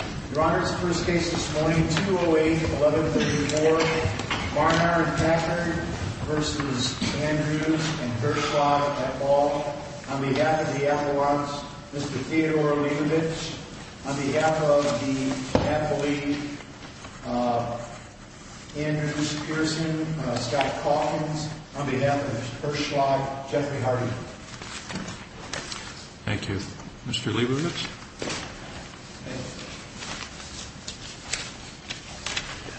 and Hirschlag et al. On behalf of the Appalachians, Mr. Theodore Liebowitz. On behalf of the Appalachian Andrews Pearson, Scott Calkins. On behalf of Hirschlag, Jeffrey Hardy. Thank you. Mr. Liebowitz.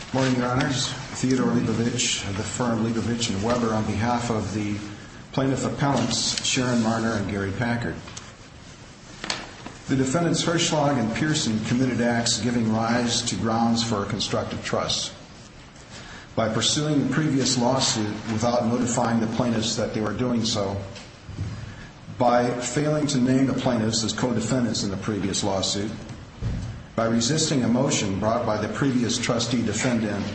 Good morning, Your Honors. Theodore Liebowitz of the firm Liebowitz & Weber on behalf of the plaintiff appellants Sharon Marner and Gary Packard. The defendants Hirschlag and Pearson committed acts giving rise to grounds for a constructive trust. By pursuing the previous lawsuit without notifying the plaintiffs that they were doing so. By failing to name the plaintiffs as co-defendants in the previous lawsuit. By resisting a motion brought by the previous trustee defendant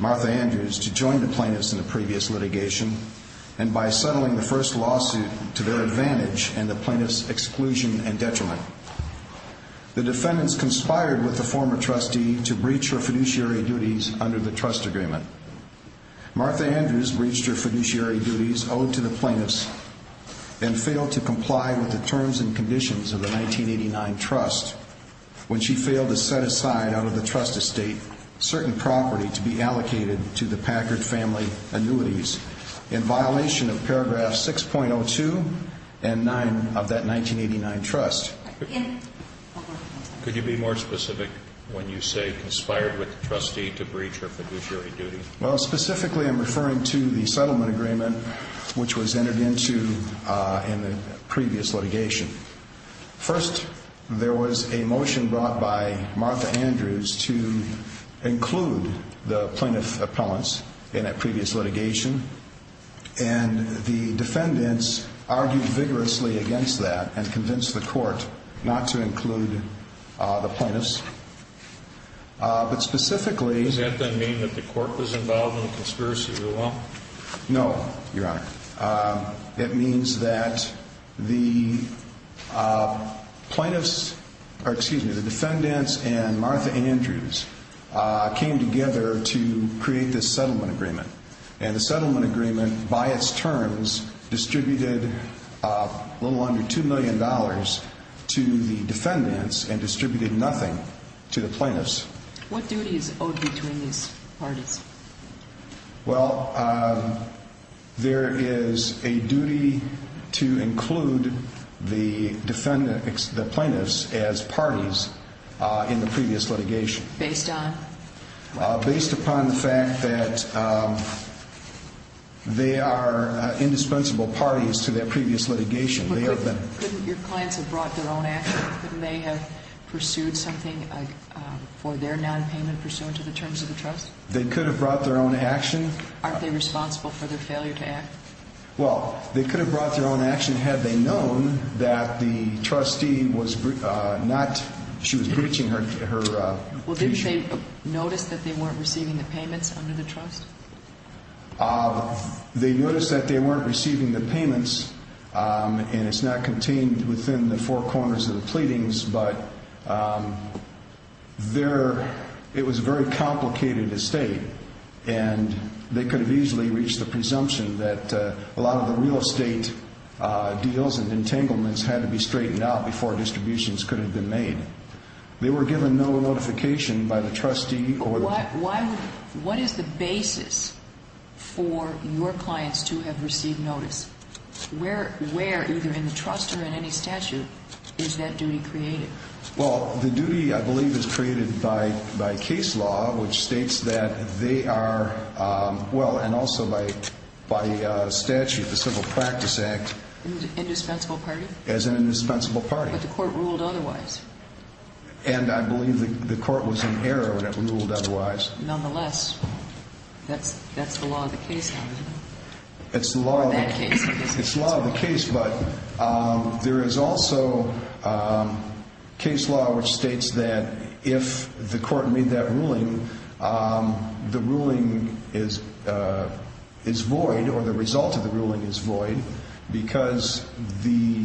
Martha Andrews to join the plaintiffs in the previous litigation. And by settling the first lawsuit to their advantage and the plaintiffs exclusion and detriment. The defendants conspired with the former trustee to breach her fiduciary duties under the trust agreement. Martha Andrews breached her fiduciary duties owed to the plaintiffs and failed to comply with the terms and conditions of the 1989 trust when she failed to set aside out of the trust estate certain property to be allocated to the Packard family annuities in violation of paragraph 6.02 and 9 of that 1989 trust. Could you be more specific when you say conspired with the trustee to breach her fiduciary duties? Well specifically I'm referring to the settlement agreement which was entered into in the previous litigation. First there was a motion brought by Martha Andrews to include the plaintiff appellants in a previous litigation and the defendants argued vigorously against that and convinced the court not to include the plaintiffs. Does that then mean that the court was involved in the conspiracy as well? No, Your Honor. It means that the plaintiffs, excuse me, the defendants and Martha Andrews came together to create this settlement agreement and the settlement agreement by its terms distributed a little under two million dollars to the defendants and distributed nothing to the plaintiffs. What duty is owed between these parties? Well, there is a duty to include the plaintiffs as parties in the previous litigation. Based on? Based upon the fact that they are indispensable parties to their previous litigation. Couldn't your clients have brought their own action? Couldn't they have pursued something for their non-payment pursuant to the terms of the trust? They could have brought their own action. Aren't they responsible for their failure to act? Well, they could have brought their own action had they known that the trustee was not, she was breaching her... Well didn't they notice that they weren't receiving the payments under the trust? They noticed that they weren't receiving the payments and it's not contained within the four corners of the pleadings, but it was a very complicated estate and they could have easily reached the presumption that a lot of the real estate deals and entanglements had to be straightened out before distributions could have been made. They were given no notification by the trustee or... What is the basis for your clients to have received notice? Where, either in the trust or in any statute, is that duty created? Well, the duty I believe is created by case law which states that they are, well and also by statute, the Civil Practice Act... Indispensable party? As an indispensable party. But the court ruled otherwise. And I believe the court was in error when it ruled otherwise. Nonetheless, that's the law of the case. It's the law of the case, but there is also case law which states that if the court made that ruling, the ruling is void or the result of the ruling is void because the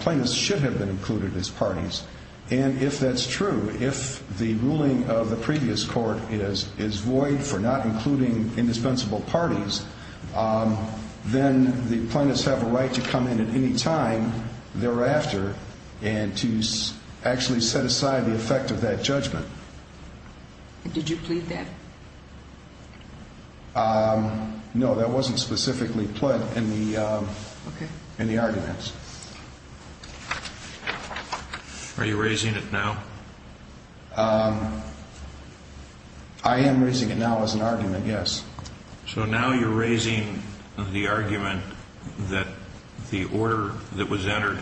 plaintiffs should have been included as parties. And if that's true, if the ruling of the previous court is void for not including indispensable parties, then the plaintiffs have a right to come in at any time thereafter and to actually set aside the effect of that judgment. Did you plead that? No, that wasn't specifically put in the arguments. Are you raising it now? I am raising it now as an argument, yes. So now you're raising the argument that the order that was entered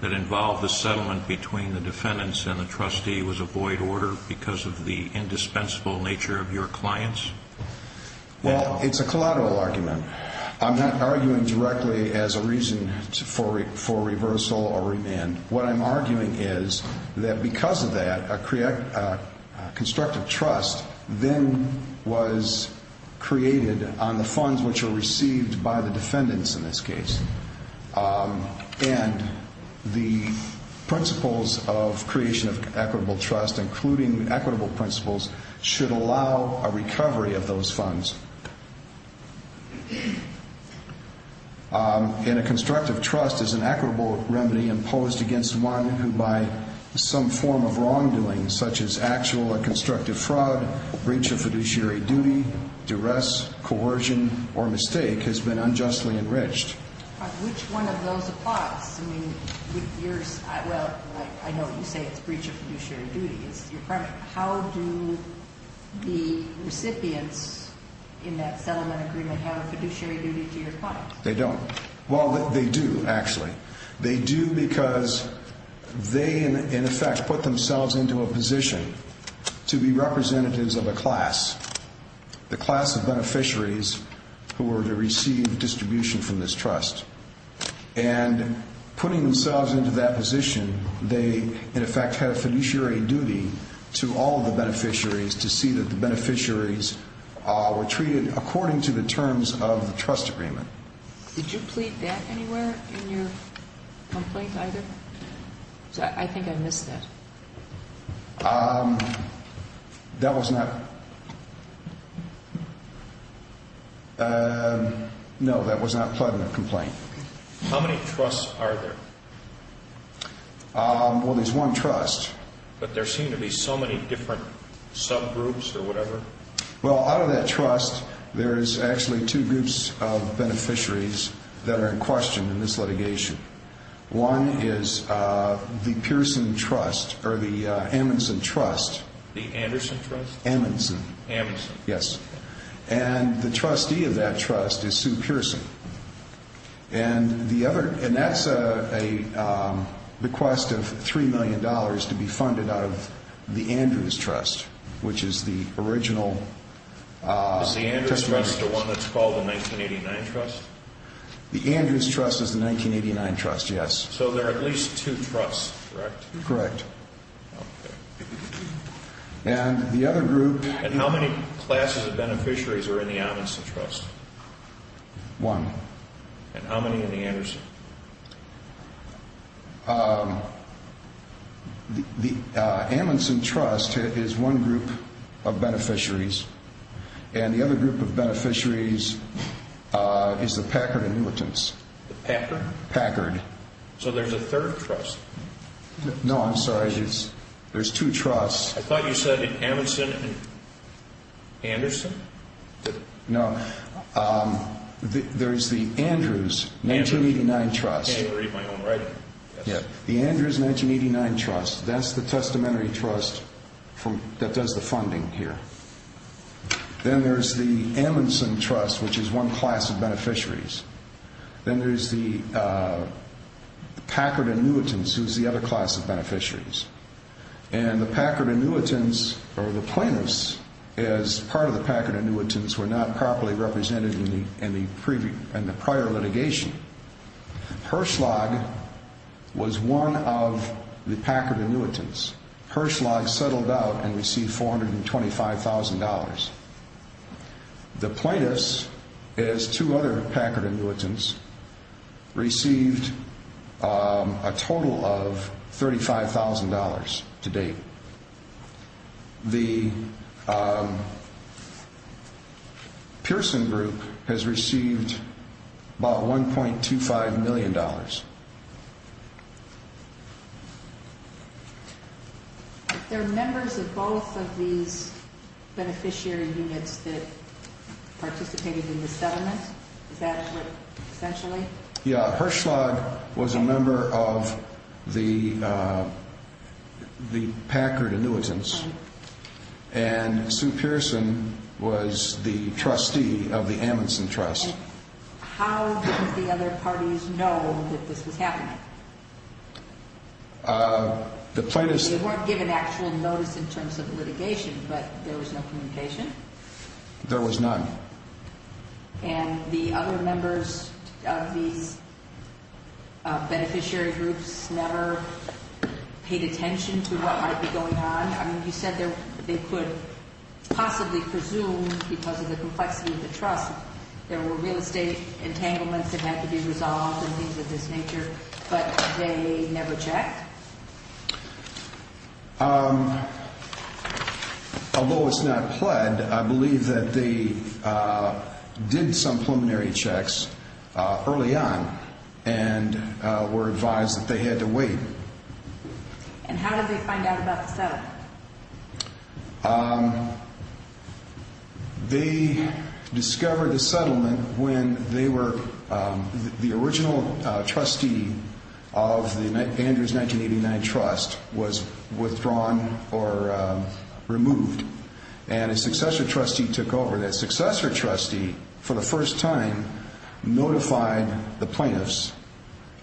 that involved the settlement between the defendants and the trustee was a void order because of the indispensable nature of your clients? Well, it's a collateral argument. I'm not arguing directly as a reason for reversal or remand. What I'm arguing is that because of that, a constructive trust then was created on the funds which were received by the defendants in this case. And the principles of creation of equitable trust, including equitable principles, should allow a recovery of those funds. And a constructive trust is an equitable remedy imposed against one who by some form of wrongdoing, such as actual or constructive fraud, breach of fiduciary duty, duress, coercion, or mistake, has been unjustly enriched. Which one of those applies? I know you say it's breach of fiduciary duty. How do the recipients in that settlement agreement have a fiduciary duty to your clients? They don't. Well, they do, actually. They do because they, in effect, put themselves into a position to be representatives of a class, the class of beneficiaries who were to receive distribution from this trust. And putting themselves into that position, they, in effect, have fiduciary duty to all of the beneficiaries to see that the beneficiaries were treated according to the terms of the trust agreement. Did you plead that anywhere in your complaint either? I think I missed that. That was not... No, that was not pled in the complaint. How many trusts are there? Well, there's one trust. But there seem to be so many different subgroups or whatever. Well, out of that trust, there's actually two groups of beneficiaries that are in question in this litigation. One is the Pearson Trust, or the Amundsen Trust. The Anderson Trust? Amundsen. Amundsen. Yes. And the trustee of that trust is Sue Pearson. And that's a request of $3 million to be funded out of the Andrews Trust, which is the original testimony... Is the Andrews Trust the one that's called the 1989 Trust? The Andrews Trust is the 1989 Trust, yes. So there are at least two trusts, correct? Correct. And the other group... And how many classes of beneficiaries are in the Amundsen Trust? One. And how many in the Anderson? The Amundsen Trust is one group of beneficiaries. And the other group of beneficiaries is the Packard Inhibitants. The Packard? Packard. So there's a third trust? No, I'm sorry. There's two trusts. I thought you said Amundsen and Anderson? No. There's the Andrews 1989 Trust. I can't even read my own writing. The Andrews 1989 Trust, that's the testamentary trust that does the funding here. Then there's the Amundsen Trust, which is one class of beneficiaries. Then there's the Packard Inhibitants, who's the other class of beneficiaries. And the Packard Inhibitants, or the plaintiffs, as part of the Packard Inhibitants, were not properly represented in the prior litigation. Hirschlag was one of the Packard Inhibitants. Hirschlag settled out and received $425,000. The plaintiffs, as two other Packard Inhibitants, received a total of $35,000 to date. The Pearson Group has received about $1.25 million. If they're members of both of these beneficiary units that participated in the settlement, is that essentially? Yeah. Hirschlag was a member of the Packard Inhibitants. And Sue Pearson was the trustee of the Amundsen Trust. How did the other parties know that this was happening? They weren't given actual notice in terms of litigation, but there was no communication. There was none. And the other members of these beneficiary groups never paid attention to what might be going on? I mean, you said they could possibly presume, because of the complexity of the trust, there were real estate entanglements that had to be resolved and things of this nature, but they never checked? Although it's not pled, I believe that they did some preliminary checks early on and were advised that they had to wait. And how did they find out about the settlement? They discovered the settlement when the original trustee of the Andrews 1989 Trust was withdrawn or removed. And a successor trustee took over. And that successor trustee, for the first time, notified the plaintiffs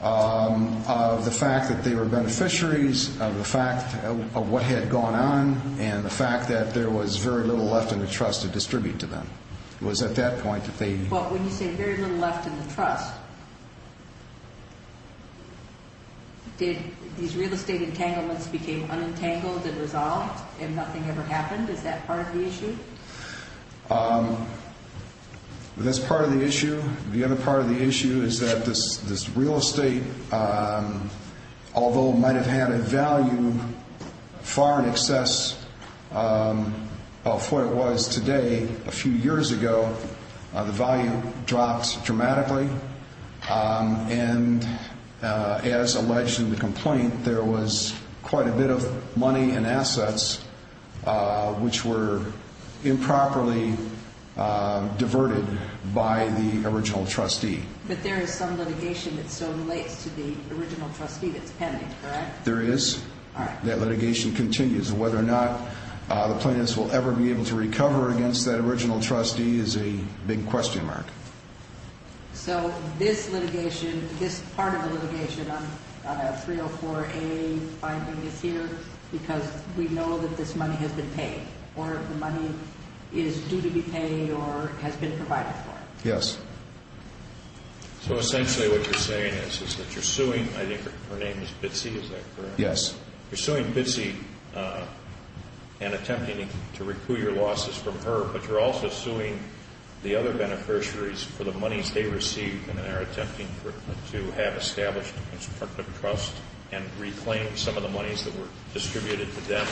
of the fact that they were beneficiaries, of the fact of what had gone on, and the fact that there was very little left in the trust to distribute to them. But when you say very little left in the trust, did these real estate entanglements become unentangled and resolved, and nothing ever happened? Is that part of the issue? That's part of the issue. The other part of the issue is that this real estate, although it might have had a value far in excess of what it was today, a few years ago, the value dropped dramatically. And as alleged in the complaint, there was quite a bit of money and assets which were improperly diverted by the original trustee. But there is some litigation that still relates to the original trustee that's pending, correct? There is. That litigation continues. Whether or not the plaintiffs will ever be able to recover against that original trustee is a big question mark. So this litigation, this part of the litigation on 304A-5B is here because we know that this money has been paid, or the money is due to be paid or has been provided for? Yes. So essentially what you're saying is that you're suing, I think her name is Bitsy, is that correct? Yes. You're suing Bitsy and attempting to recoup your losses from her, but you're also suing the other beneficiaries for the monies they received and are attempting to have established a constructive trust and reclaim some of the monies that were distributed to them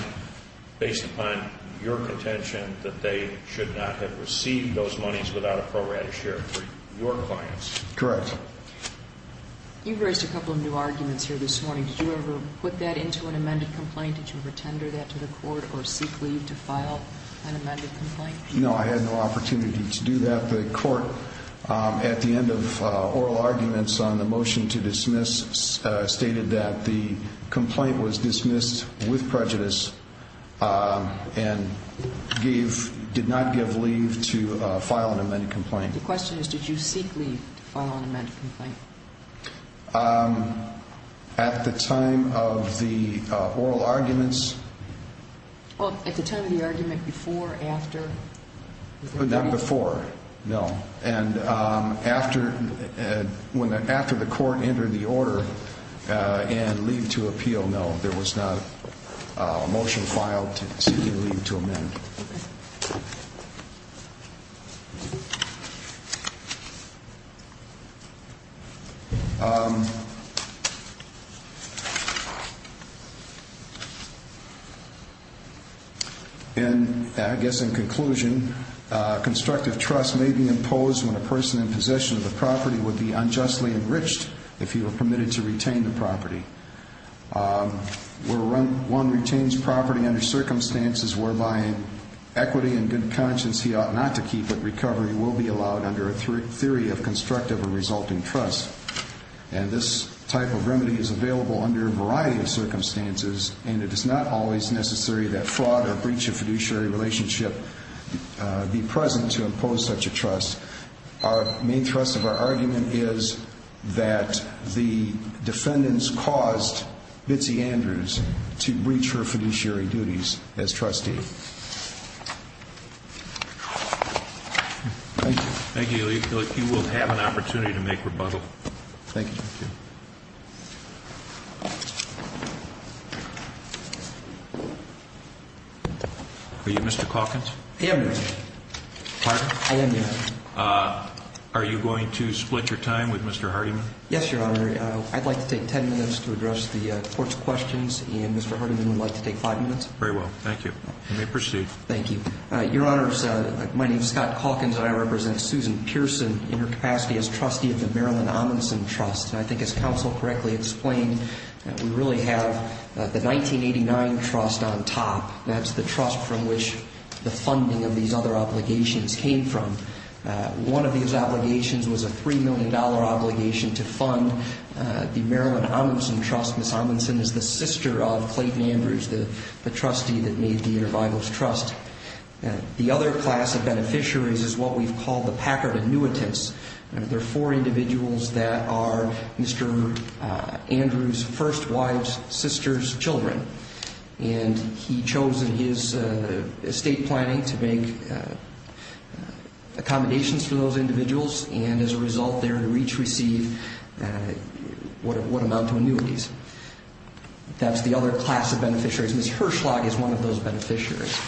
based upon your contention that they should not have received those monies without a pro rata share for your clients. Correct. You've raised a couple of new arguments here this morning. Did you ever put that into an amended complaint? Did you retender that to the court or seek leave to file an amended complaint? No, I had no opportunity to do that. The court, at the end of oral arguments on the motion to dismiss, stated that the complaint was dismissed with prejudice and did not give leave to file an amended complaint. The question is, did you seek leave to file an amended complaint? At the time of the oral arguments? Well, at the time of the argument, before or after? Not before, no. And after the court entered the order and leave to appeal, no. There was not a motion filed seeking leave to amend. And I guess in conclusion, constructive trust may be imposed when a person in possession of the property would be unjustly enriched if he were permitted to retain the property. One retains property under circumstances whereby equity and good conscience, he ought not to keep it, recovery will be allowed under a theory of constructive or resulting trust. And this type of remedy is available under a variety of circumstances, and it is not always necessary that fraud or breach of fiduciary relationship be present to impose such a trust. Our main thrust of our argument is that the defendants caused Bitsy Andrews to breach her fiduciary duties as trustee. Thank you. Thank you. You will have an opportunity to make rebuttal. Thank you. Are you Mr. Calkins? I am, Your Honor. Pardon? I am, Your Honor. Are you going to split your time with Mr. Hardiman? Yes, Your Honor. I'd like to take ten minutes to address the court's questions, and Mr. Hardiman would like to take five minutes. Very well. Thank you. You may proceed. Thank you. Your Honors, my name is Scott Calkins, and I represent Susan Pearson in her capacity as trustee of the Marilyn Amundson Trust. And I think as counsel correctly explained, we really have the 1989 trust on top. That's the trust from which the funding of these other obligations came from. One of these obligations was a $3 million obligation to fund the Marilyn Amundson Trust. Ms. Amundson is the sister of Clayton Andrews, the trustee that made the Intervitals Trust. The other class of beneficiaries is what we've called the Packard annuitants. They're four individuals that are Mr. Andrews' first wife's sister's children. And he chose in his estate planning to make accommodations for those individuals. And as a result, they would each receive what amount of annuities. That's the other class of beneficiaries. Ms. Herschlock is one of those beneficiaries.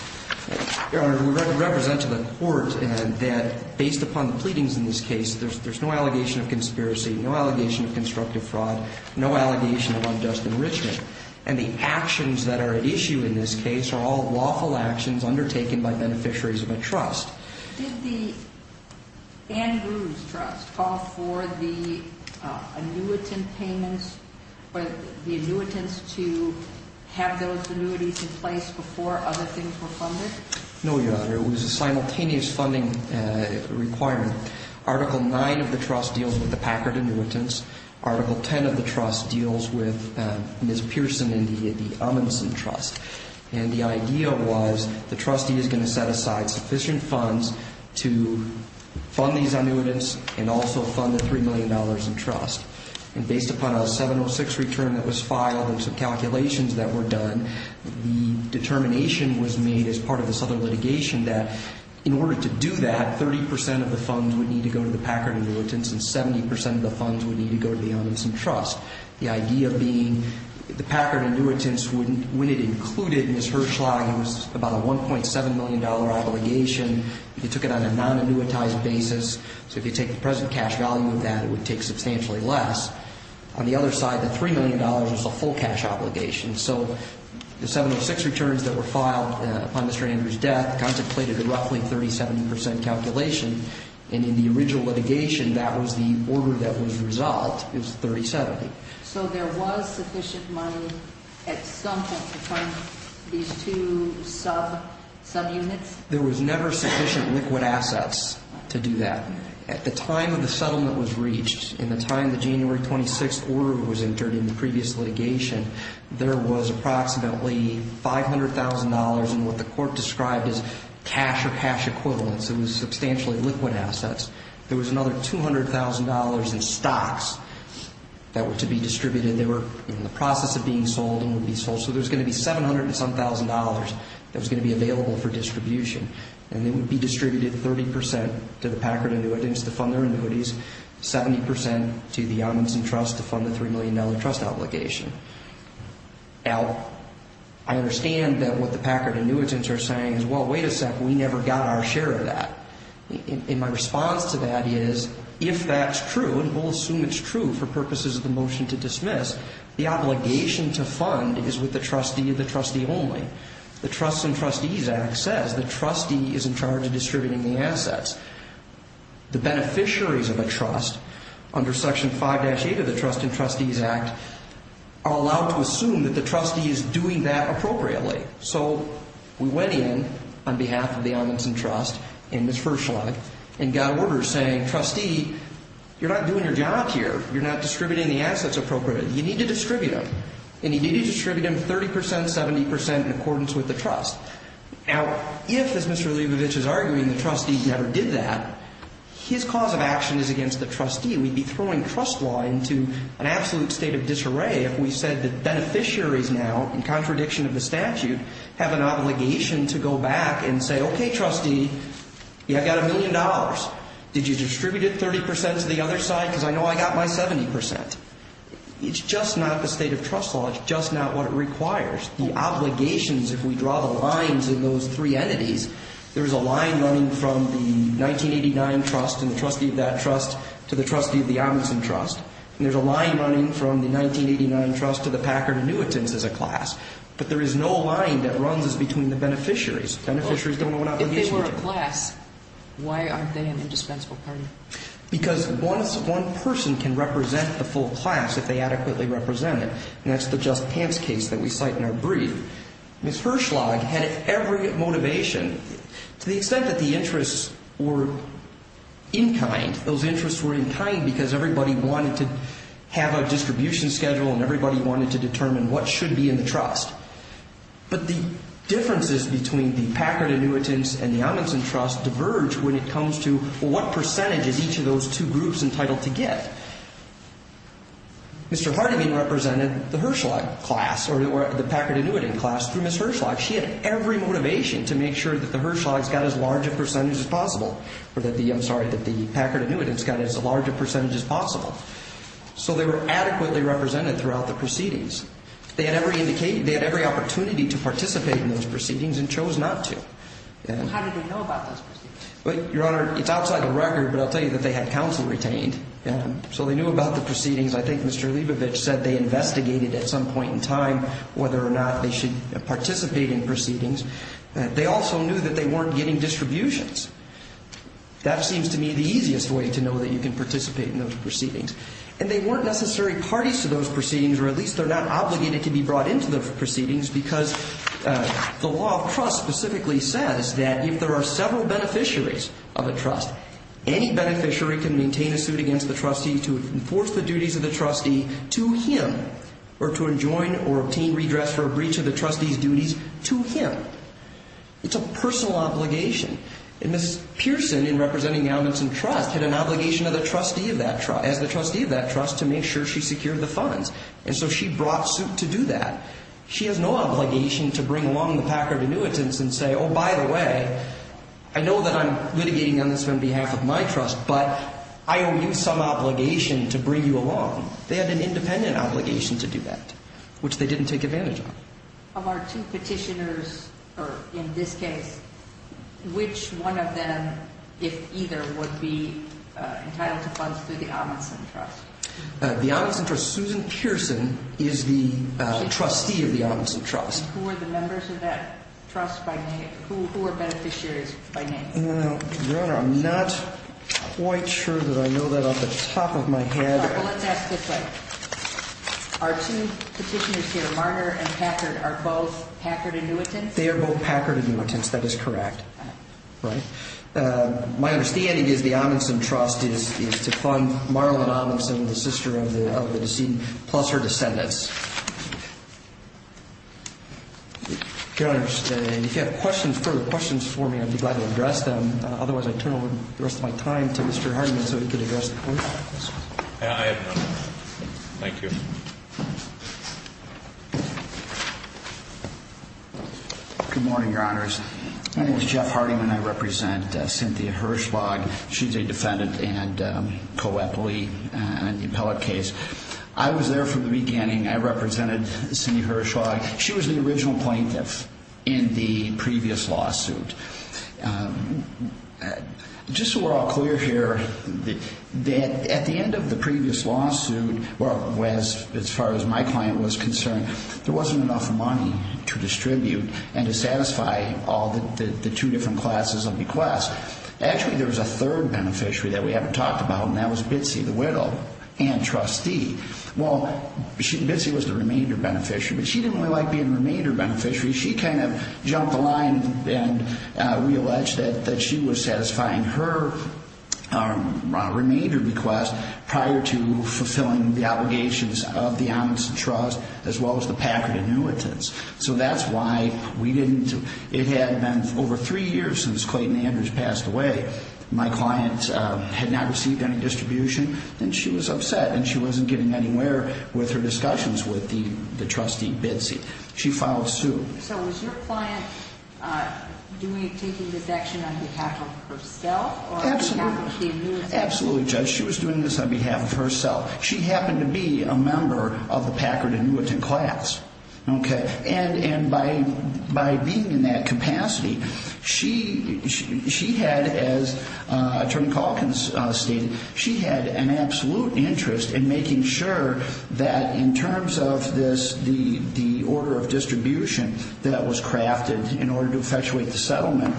Your Honor, we represent to the court that based upon the pleadings in this case, there's no allegation of conspiracy, no allegation of constructive fraud, no allegation of unjust enrichment. And the actions that are at issue in this case are all lawful actions undertaken by beneficiaries of a trust. Did the Andrews Trust call for the annuitant payments, the annuitants to have those annuities in place before other things were funded? No, Your Honor. It was a simultaneous funding requirement. Article 9 of the trust deals with the Packard annuitants. Article 10 of the trust deals with Ms. Pearson and the Amundsen Trust. And the idea was the trustee is going to set aside sufficient funds to fund these annuitants and also fund the $3 million in trust. And based upon a 706 return that was filed and some calculations that were done, the determination was made as part of this other litigation that in order to do that, 30% of the funds would need to go to the Packard annuitants and 70% of the funds would need to go to the Amundsen Trust. The idea being the Packard annuitants, when it included Ms. Hirschla, it was about a $1.7 million obligation. They took it on a non-annuitized basis. So if you take the present cash value of that, it would take substantially less. On the other side, the $3 million was a full cash obligation. So the 706 returns that were filed upon Mr. Andrews' death contemplated a roughly 30-70% calculation. And in the original litigation, that was the order that was resolved, is 30-70. So there was sufficient money at some point to fund these two subunits? There was never sufficient liquid assets to do that. At the time of the settlement was reached, in the time the January 26th order was entered in the previous litigation, there was approximately $500,000 in what the court described as cash or cash equivalents. It was substantially liquid assets. There was another $200,000 in stocks that were to be distributed. They were in the process of being sold and would be sold. So there was going to be $700,000-and-some-thousand that was going to be available for distribution. And they would be distributed 30% to the Packard annuitants to fund their annuities, 70% to the Amundsen Trust to fund the $3 million trust obligation. Now, I understand that what the Packard annuitants are saying is, well, wait a second, we never got our share of that. And my response to that is, if that's true, and we'll assume it's true for purposes of the motion to dismiss, the obligation to fund is with the trustee and the trustee only. The Trusts and Trustees Act says the trustee is in charge of distributing the assets. The beneficiaries of a trust under Section 5-8 of the Trusts and Trustees Act are allowed to assume that the trustee is doing that appropriately. So we went in on behalf of the Amundsen Trust and Ms. Ferschlag and got orders saying, trustee, you're not doing your job here. You're not distributing the assets appropriately. You need to distribute them. And you need to distribute them 30%, 70% in accordance with the trust. Now, if, as Mr. Leibovich is arguing, the trustee never did that, his cause of action is against the trustee. We'd be throwing trust law into an absolute state of disarray if we said that beneficiaries now, in contradiction of the statute, have an obligation to go back and say, okay, trustee, I've got a million dollars. Did you distribute it 30% to the other side? Because I know I got my 70%. It's just not the state of trust law. It's just not what it requires. The obligations, if we draw the lines in those three entities, there is a line running from the 1989 trust and the trustee of that trust to the trustee of the Amundsen Trust, and there's a line running from the 1989 trust to the Packard annuitants as a class. But there is no line that runs between the beneficiaries. Beneficiaries don't know what obligation to do. If they were a class, why aren't they an indispensable party? Because one person can represent the full class if they adequately represent it, and that's the Just Pants case that we cite in our brief. Ms. Hirschlag had every motivation. To the extent that the interests were in kind, those interests were in kind because everybody wanted to have a distribution schedule and everybody wanted to determine what should be in the trust. But the differences between the Packard annuitants and the Amundsen Trust diverge when it comes to what percentage is each of those two groups entitled to get. Mr. Harding represented the Hirschlag class or the Packard annuitant class through Ms. Hirschlag. She had every motivation to make sure that the Hirschlags got as large a percentage as possible, or that the Packard annuitants got as large a percentage as possible. So they were adequately represented throughout the proceedings. They had every opportunity to participate in those proceedings and chose not to. How did they know about those proceedings? Your Honor, it's outside the record, but I'll tell you that they had counsel retained. So they knew about the proceedings. I think Mr. Leibovich said they investigated at some point in time whether or not they should participate in proceedings. They also knew that they weren't getting distributions. That seems to me the easiest way to know that you can participate in those proceedings. And they weren't necessary parties to those proceedings, or at least they're not obligated to be brought into the proceedings because the law of trust specifically says that if there are several beneficiaries of a trust, any beneficiary can maintain a suit against the trustee to enforce the duties of the trustee to him or to adjoin or obtain redress for a breach of the trustee's duties to him. It's a personal obligation. And Ms. Pearson, in representing elements in trust, had an obligation as the trustee of that trust to make sure she secured the funds. And so she brought suit to do that. She has no obligation to bring along the Packard annuitants and say, oh, by the way, I know that I'm litigating on this on behalf of my trust, but I owe you some obligation to bring you along. They had an independent obligation to do that, which they didn't take advantage of. Of our two petitioners, or in this case, which one of them, if either, would be entitled to funds through the Amundsen Trust? The Amundsen Trust. Susan Pearson is the trustee of the Amundsen Trust. And who are the members of that trust by name? Who are beneficiaries by name? Your Honor, I'm not quite sure that I know that off the top of my head. Well, let's ask this way. Our two petitioners here, Marner and Packard, are both Packard annuitants? That is correct. All right. My understanding is the Amundsen Trust is to fund Marlon Amundsen, the sister of the decedent, plus her descendants. Your Honor, if you have further questions for me, I'd be glad to address them. Otherwise, I turn over the rest of my time to Mr. Hardiman so he can address the court. I have none. Thank you. Good morning, Your Honors. My name is Jeff Hardiman. I represent Cynthia Hirschlag. She's a defendant and co-appellee in the appellate case. I was there from the beginning. I represented Cynthia Hirschlag. She was the original plaintiff in the previous lawsuit. Just so we're all clear here, at the end of the previous lawsuit, as far as my client was concerned, there wasn't enough money to distribute and to satisfy all the two different classes of requests. Actually, there was a third beneficiary that we haven't talked about, and that was Bitsy the Widdle, antrustee. Well, Bitsy was the remainder beneficiary, but she didn't really like being the remainder beneficiary. She kind of jumped the line and realleged that she was satisfying her remainder request prior to fulfilling the obligations of the Amundsen Trust as well as the Packard annuitants. So that's why we didn't. It had been over three years since Clayton Andrews passed away. My client had not received any distribution, and she was upset, and she wasn't getting anywhere with her discussions with the trustee, Bitsy. She filed suit. So was your client taking this action on behalf of herself or on behalf of the annuitants? Absolutely, Judge. She was doing this on behalf of herself. She happened to be a member of the Packard annuitant class. And by being in that capacity, she had, as Attorney Calkins stated, she had an absolute interest in making sure that in terms of the order of distribution that was crafted in order to effectuate the settlement,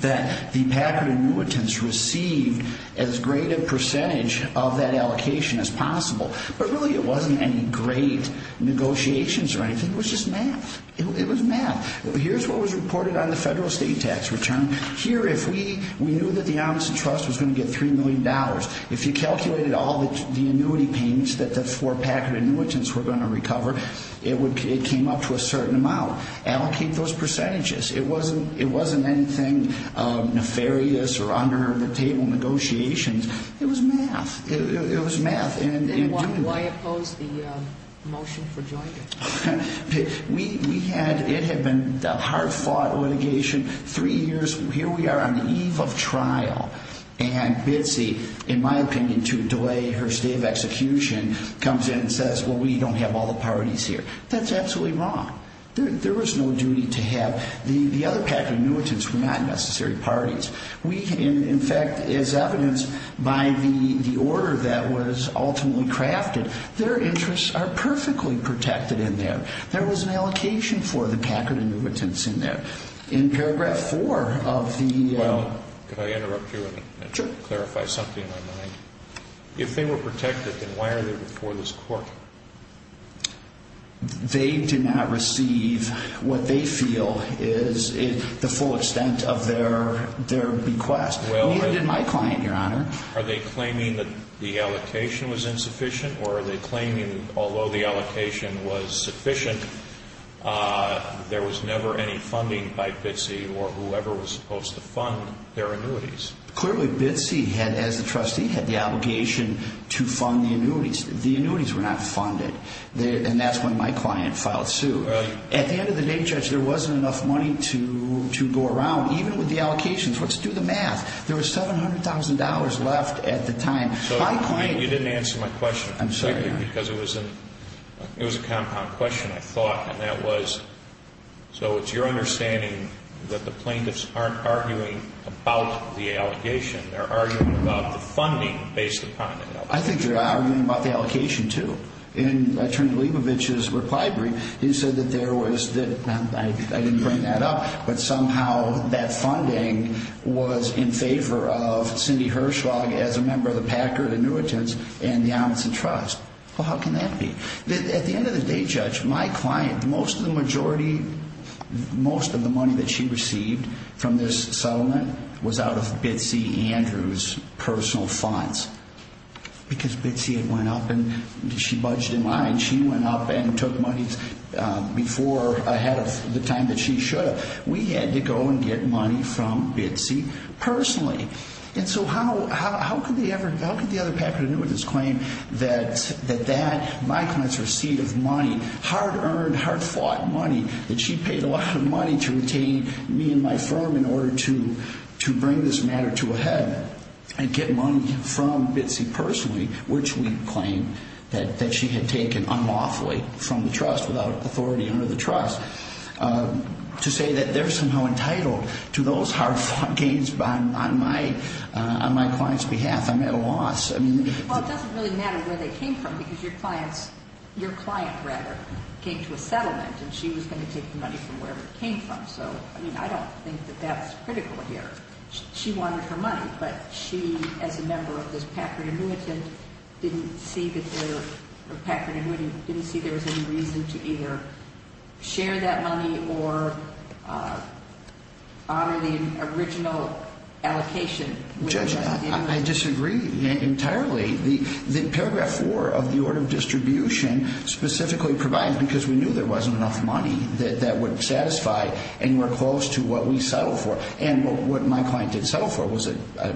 that the Packard annuitants received as great a percentage of that allocation as possible. But really it wasn't any great negotiations or anything. It was just math. It was math. Here's what was reported on the federal state tax return. Here, if we knew that the Amundsen Trust was going to get $3 million, if you calculated all the annuity payments that the four Packard annuitants were going to recover, it came up to a certain amount. Allocate those percentages. It wasn't anything nefarious or under-the-table negotiations. It was math. It was math. Then why oppose the motion for joint? It had been a hard-fought litigation. Three years, here we are on the eve of trial, and Bitsy, in my opinion, to delay her state of execution, comes in and says, well, we don't have all the parties here. That's absolutely wrong. There was no duty to have. The other Packard annuitants were not necessary parties. In fact, as evidenced by the order that was ultimately crafted, their interests are perfectly protected in there. There was an allocation for the Packard annuitants in there. In Paragraph 4 of the- Well, could I interrupt you and clarify something in my mind? If they were protected, then why are they before this court? They do not receive what they feel is the full extent of their bequest, neither did my client, Your Honor. Are they claiming that the allocation was insufficient, or are they claiming that although the allocation was sufficient, there was never any funding by Bitsy or whoever was supposed to fund their annuities? Clearly, Bitsy, as the trustee, had the obligation to fund the annuities. The annuities were not funded, and that's when my client filed suit. At the end of the day, Judge, there wasn't enough money to go around, even with the allocations. Let's do the math. There was $700,000 left at the time. My client- You didn't answer my question. I'm sorry, Your Honor. Because it was a compound question, I thought, and that was, so it's your understanding that the plaintiffs aren't arguing about the allegation. They're arguing about the funding based upon it. I think they're arguing about the allocation, too. In Attorney Leibovich's reply brief, he said that there was- I didn't bring that up, but somehow that funding was in favor of Cindy Hirschlag as a member of the Packard Annuitants and the Amundsen Trust. Well, how can that be? At the end of the day, Judge, my client, most of the majority, most of the money that she received from this settlement was out of Bitsy Andrews' personal funds. Because Bitsy had went up and she budged in line. She went up and took money ahead of the time that she should have. We had to go and get money from Bitsy personally. And so how could the other Packard Annuitants claim that my client's receipt of money, hard-earned, hard-fought money, that she paid a lot of money to retain me and my firm in order to bring this matter to a head and get money from Bitsy personally, which we claim that she had taken unlawfully from the trust, without authority under the trust, to say that they're somehow entitled to those hard-fought gains on my client's behalf? I'm at a loss. Well, it doesn't really matter where they came from because your client, rather, came to a settlement and she was going to take the money from wherever it came from. So, I mean, I don't think that that's critical here. She wanted her money, but she, as a member of this Packard Annuitant, didn't see that there was any reason to either share that money or honor the original allocation. Judge, I disagree entirely. The paragraph 4 of the order of distribution specifically provides, because we knew there wasn't enough money that would satisfy anywhere close to what we settled for, and what my client did settle for was a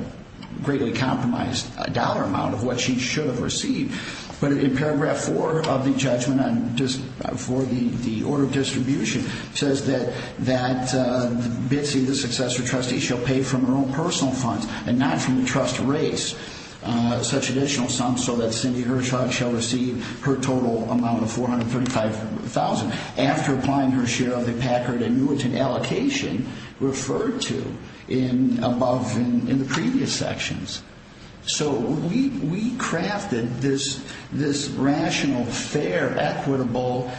greatly compromised dollar amount of what she should have received. But in paragraph 4 of the judgment for the order of distribution says that Bitsy, the successor trustee, shall pay from her own personal funds and not from the trust rates such additional sums so that Cindy Hershock shall receive her total amount of $435,000 after applying her share of the Packard Annuitant allocation referred to above in the previous sections. So we crafted this rational, fair, equitable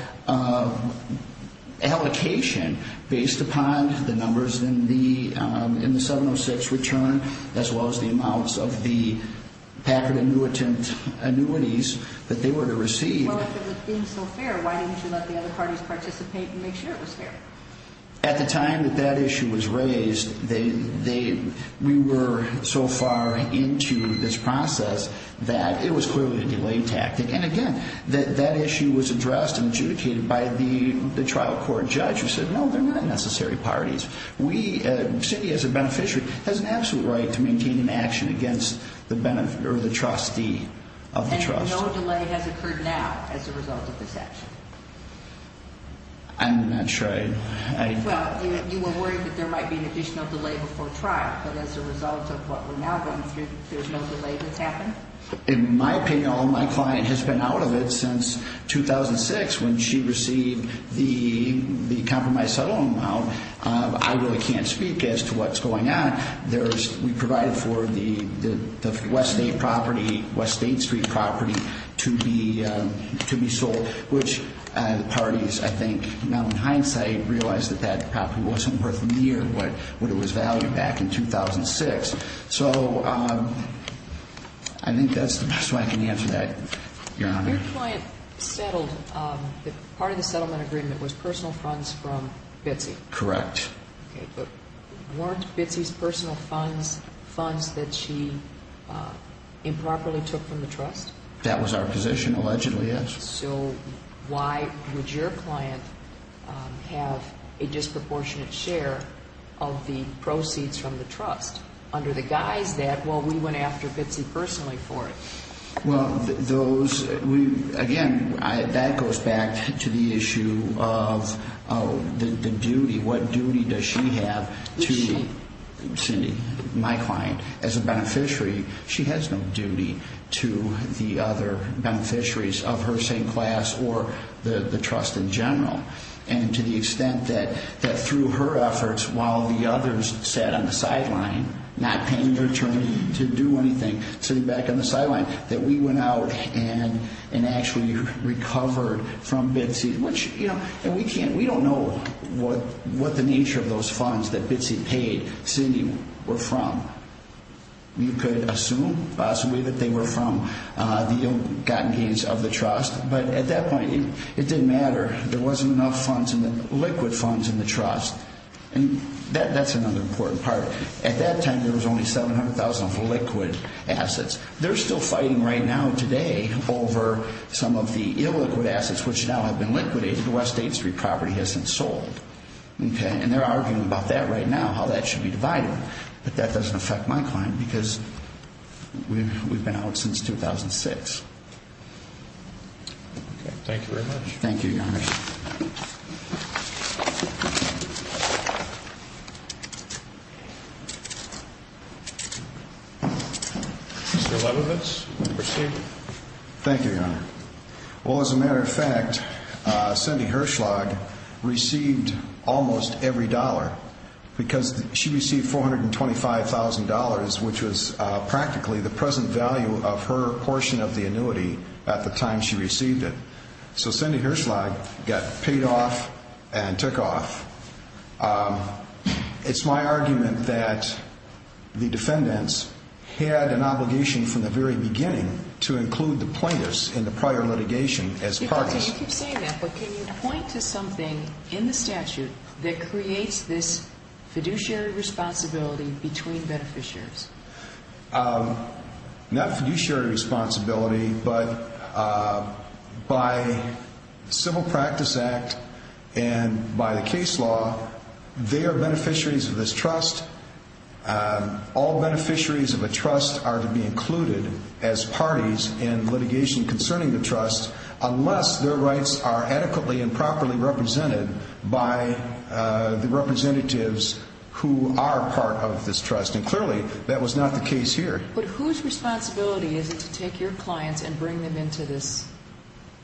allocation based upon the numbers in the 706 return as well as the amounts of the Packard Annuitant annuities that they were to receive. Well, if it was being so fair, why didn't you let the other parties participate and make sure it was fair? At the time that that issue was raised, we were so far into this process that it was clearly a delay tactic. And again, that issue was addressed and adjudicated by the trial court judge who said, no, they're not necessary parties. Cindy, as a beneficiary, has an absolute right to maintain an action against the trustee of the trust. And no delay has occurred now as a result of this action? I'm not sure. Well, you were worried that there might be an additional delay before trial, but as a result of what we're now going through, there's no delay that's happened? In my opinion, all my client has been out of it since 2006 when she received the compromised settlement amount. I really can't speak as to what's going on. We provided for the West State property, West State Street property, to be sold, which the parties, I think, now in hindsight, realize that that property wasn't worth near what it was valued back in 2006. So I think that's the best way I can answer that, Your Honor. Your client settled, part of the settlement agreement was personal funds from Bitsy? Correct. Okay, but weren't Bitsy's personal funds funds that she improperly took from the trust? That was our position, allegedly, yes. So why would your client have a disproportionate share of the proceeds from the trust under the guise that, well, we went after Bitsy personally for it? Well, again, that goes back to the issue of the duty. What duty does she have to me, Cindy, my client, as a beneficiary? She has no duty to the other beneficiaries of her same class or the trust in general. And to the extent that through her efforts, while the others sat on the sideline, not paying their attorney to do anything, sitting back on the sideline, that we went out and actually recovered from Bitsy, which, you know, we don't know what the nature of those funds that Bitsy paid Cindy were from. You could assume possibly that they were from the ill-gotten gains of the trust, but at that point it didn't matter. There wasn't enough funds, liquid funds, in the trust. And that's another important part. At that time there was only $700,000 of liquid assets. They're still fighting right now today over some of the illiquid assets, which now have been liquidated. The West 8th Street property hasn't sold. And they're arguing about that right now, how that should be divided. But that doesn't affect my client because we've been out since 2006. Thank you very much. Thank you, Your Honor. Mr. Leibovitz, proceed. Thank you, Your Honor. Well, as a matter of fact, Cindy Hirschlag received almost every dollar because she received $425,000, which was practically the present value of her portion of the annuity at the time she received it. So Cindy Hirschlag got paid off and took off. It's my argument that the defendants had an obligation from the very beginning to include the plaintiffs in the prior litigation as partners. You keep saying that, but can you point to something in the statute that creates this fiduciary responsibility between beneficiaries? Not fiduciary responsibility, but by Civil Practice Act and by the case law, they are beneficiaries of this trust. All beneficiaries of a trust are to be included as parties in litigation concerning the trust unless their rights are adequately and properly represented by the representatives who are part of this trust. And clearly, that was not the case here. But whose responsibility is it to take your clients and bring them into this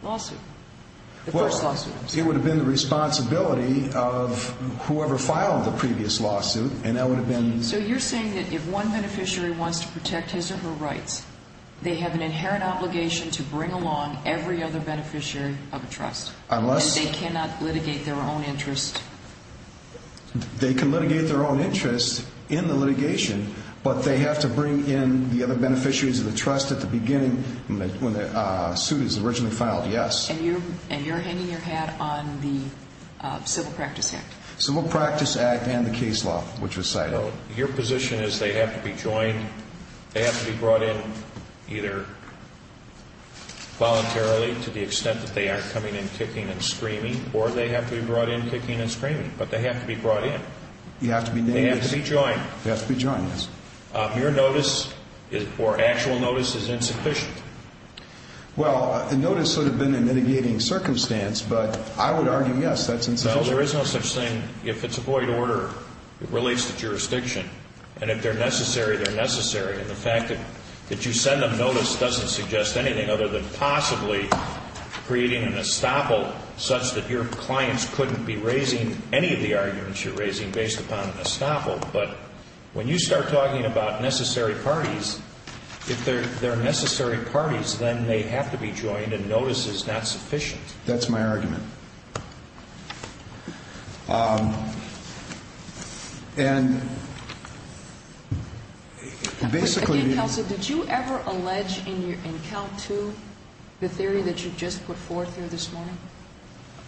lawsuit? The first lawsuit, I'm sorry. It would have been the responsibility of whoever filed the previous lawsuit, and that would have been... So you're saying that if one beneficiary wants to protect his or her rights, they have an inherent obligation to bring along every other beneficiary of a trust. Unless... And they cannot litigate their own interest. They can litigate their own interest in the litigation, but they have to bring in the other beneficiaries of the trust at the beginning when the suit is originally filed, yes. And you're hanging your hat on the Civil Practice Act. Civil Practice Act and the case law, which was cited. Your position is they have to be joined, they have to be brought in either voluntarily to the extent that they are coming in kicking and screaming, or they have to be brought in kicking and screaming. But they have to be brought in. They have to be joined. They have to be joined, yes. Your notice or actual notice is insufficient. Well, the notice would have been in mitigating circumstance, but I would argue, yes, that's insufficient. Well, there is no such thing. If it's a void order, it relates to jurisdiction. And if they're necessary, they're necessary. And the fact that you send them notice doesn't suggest anything other than possibly creating an estoppel such that your clients couldn't be raising any of the arguments you're raising based upon an estoppel. But when you start talking about necessary parties, if they're necessary parties, then they have to be joined and notice is not sufficient. That's my argument. And basically... Again, counsel, did you ever allege in count two the theory that you just put forth here this morning?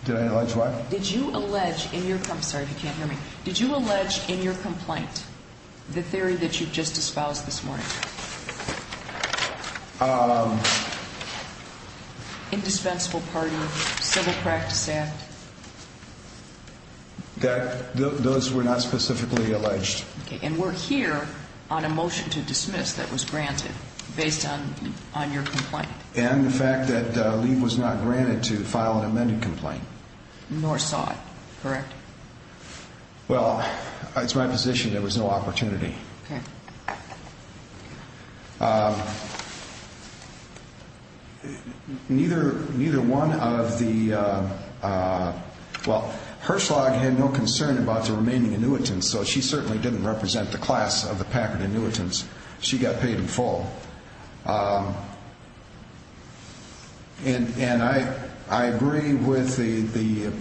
Did I allege what? Did you allege in your... I'm sorry if you can't hear me. Did you allege in your complaint the theory that you just espoused this morning? Indispensable party, civil practice act. Those were not specifically alleged. And we're here on a motion to dismiss that was granted based on your complaint. And the fact that Lee was not granted to file an amended complaint. Nor saw it, correct? Well, it's my position there was no opportunity. Neither one of the... Well, Herschelag had no concern about the remaining annuitants, so she certainly didn't represent the class of the Packard annuitants. She got paid in full. And I agree with the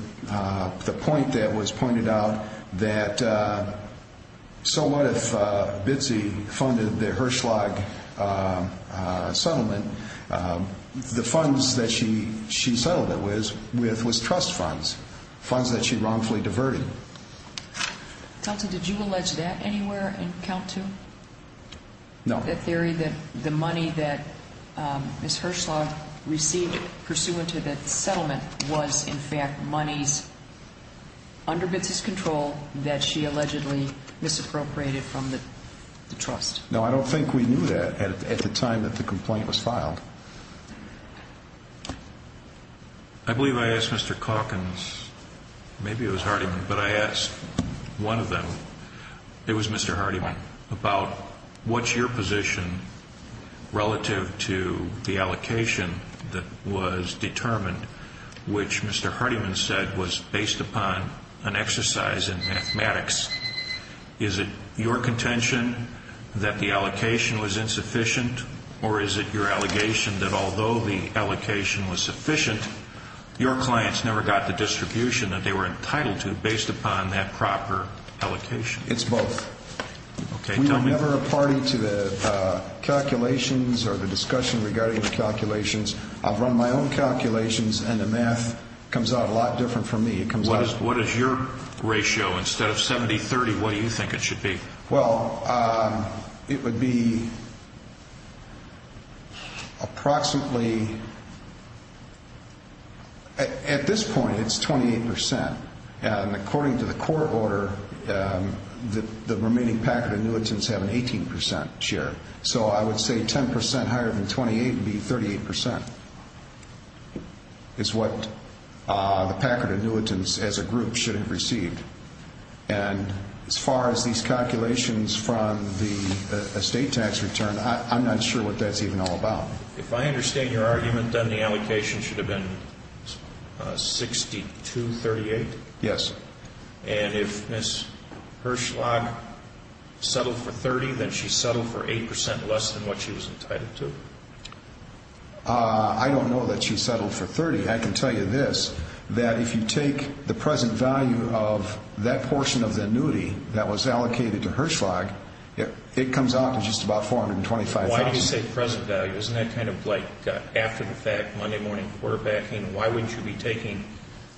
point that was pointed out, that so what if Bitsy funded the Herschelag settlement? The funds that she settled it with was trust funds. Funds that she wrongfully diverted. Counsel, did you allege that anywhere in count two? No. The theory that the money that Ms. Herschelag received pursuant to the settlement was in fact monies under Bitsy's control that she allegedly misappropriated from the trust. No, I don't think we knew that at the time that the complaint was filed. I believe I asked Mr. Calkins, maybe it was Hardiman, but I asked one of them. It was Mr. Hardiman about what's your position relative to the allocation that was determined, which Mr. Hardiman said was based upon an exercise in mathematics. Is it your contention that the allocation was insufficient, or is it your allegation that although the allocation was sufficient, your clients never got the distribution that they were entitled to based upon that proper allocation? It's both. Okay, tell me. We were never a party to the calculations or the discussion regarding the calculations. I've run my own calculations, and the math comes out a lot different from me. What is your ratio? Instead of 70-30, what do you think it should be? Well, it would be approximately, at this point it's 28%. And according to the court order, the remaining Packard annuitants have an 18% share. So I would say 10% higher than 28 would be 38% is what the Packard annuitants as a group should have received. And as far as these calculations from the estate tax return, I'm not sure what that's even all about. If I understand your argument, then the allocation should have been 62-38? Yes. And if Ms. Herschlag settled for 30, then she settled for 8% less than what she was entitled to? I don't know that she settled for 30. I can tell you this, that if you take the present value of that portion of the annuity that was allocated to Herschlag, it comes out to just about $425,000. Why did you say present value? Isn't that kind of like after the fact, Monday morning quarterbacking? Why wouldn't you be taking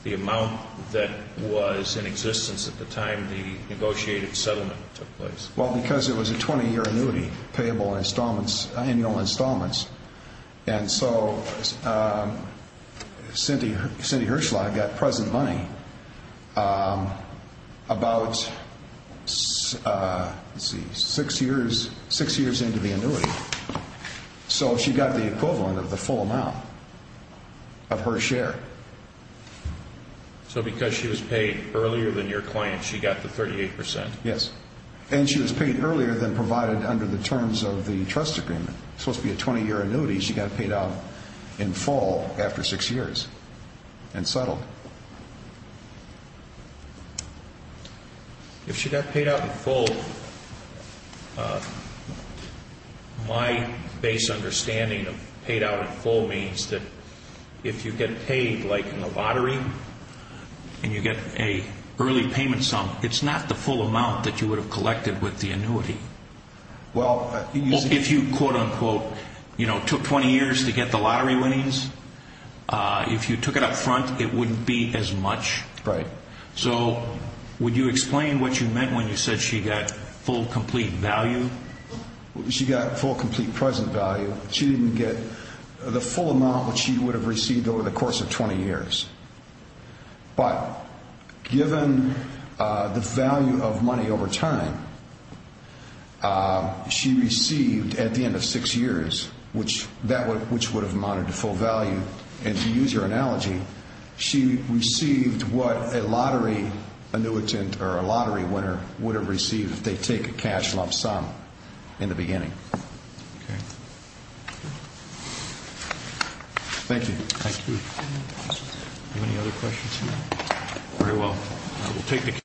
the amount that was in existence at the time the negotiated settlement took place? Well, because it was a 20-year annuity, payable installments, annual installments. And so Cindy Herschlag got present money about, let's see, six years into the annuity. So she got the equivalent of the full amount of her share. So because she was paid earlier than your client, she got the 38%? Yes. And she was paid earlier than provided under the terms of the trust agreement. It's supposed to be a 20-year annuity. She got paid out in full after six years and settled. If she got paid out in full, my base understanding of paid out in full means that if you get paid like in a lottery and you get an early payment sum, it's not the full amount that you would have collected with the annuity. Well, if you, quote, unquote, took 20 years to get the lottery winnings, if you took it up front, it wouldn't be as much. Right. So would you explain what you meant when you said she got full, complete value? She got full, complete present value. She didn't get the full amount that she would have received over the course of 20 years. But given the value of money over time, she received at the end of six years, which would have amounted to full value. And to use your analogy, she received what a lottery annuitant or a lottery winner would have received if they take a cash lump sum in the beginning. Okay. Thank you. Thank you. Do you have any other questions? Very well.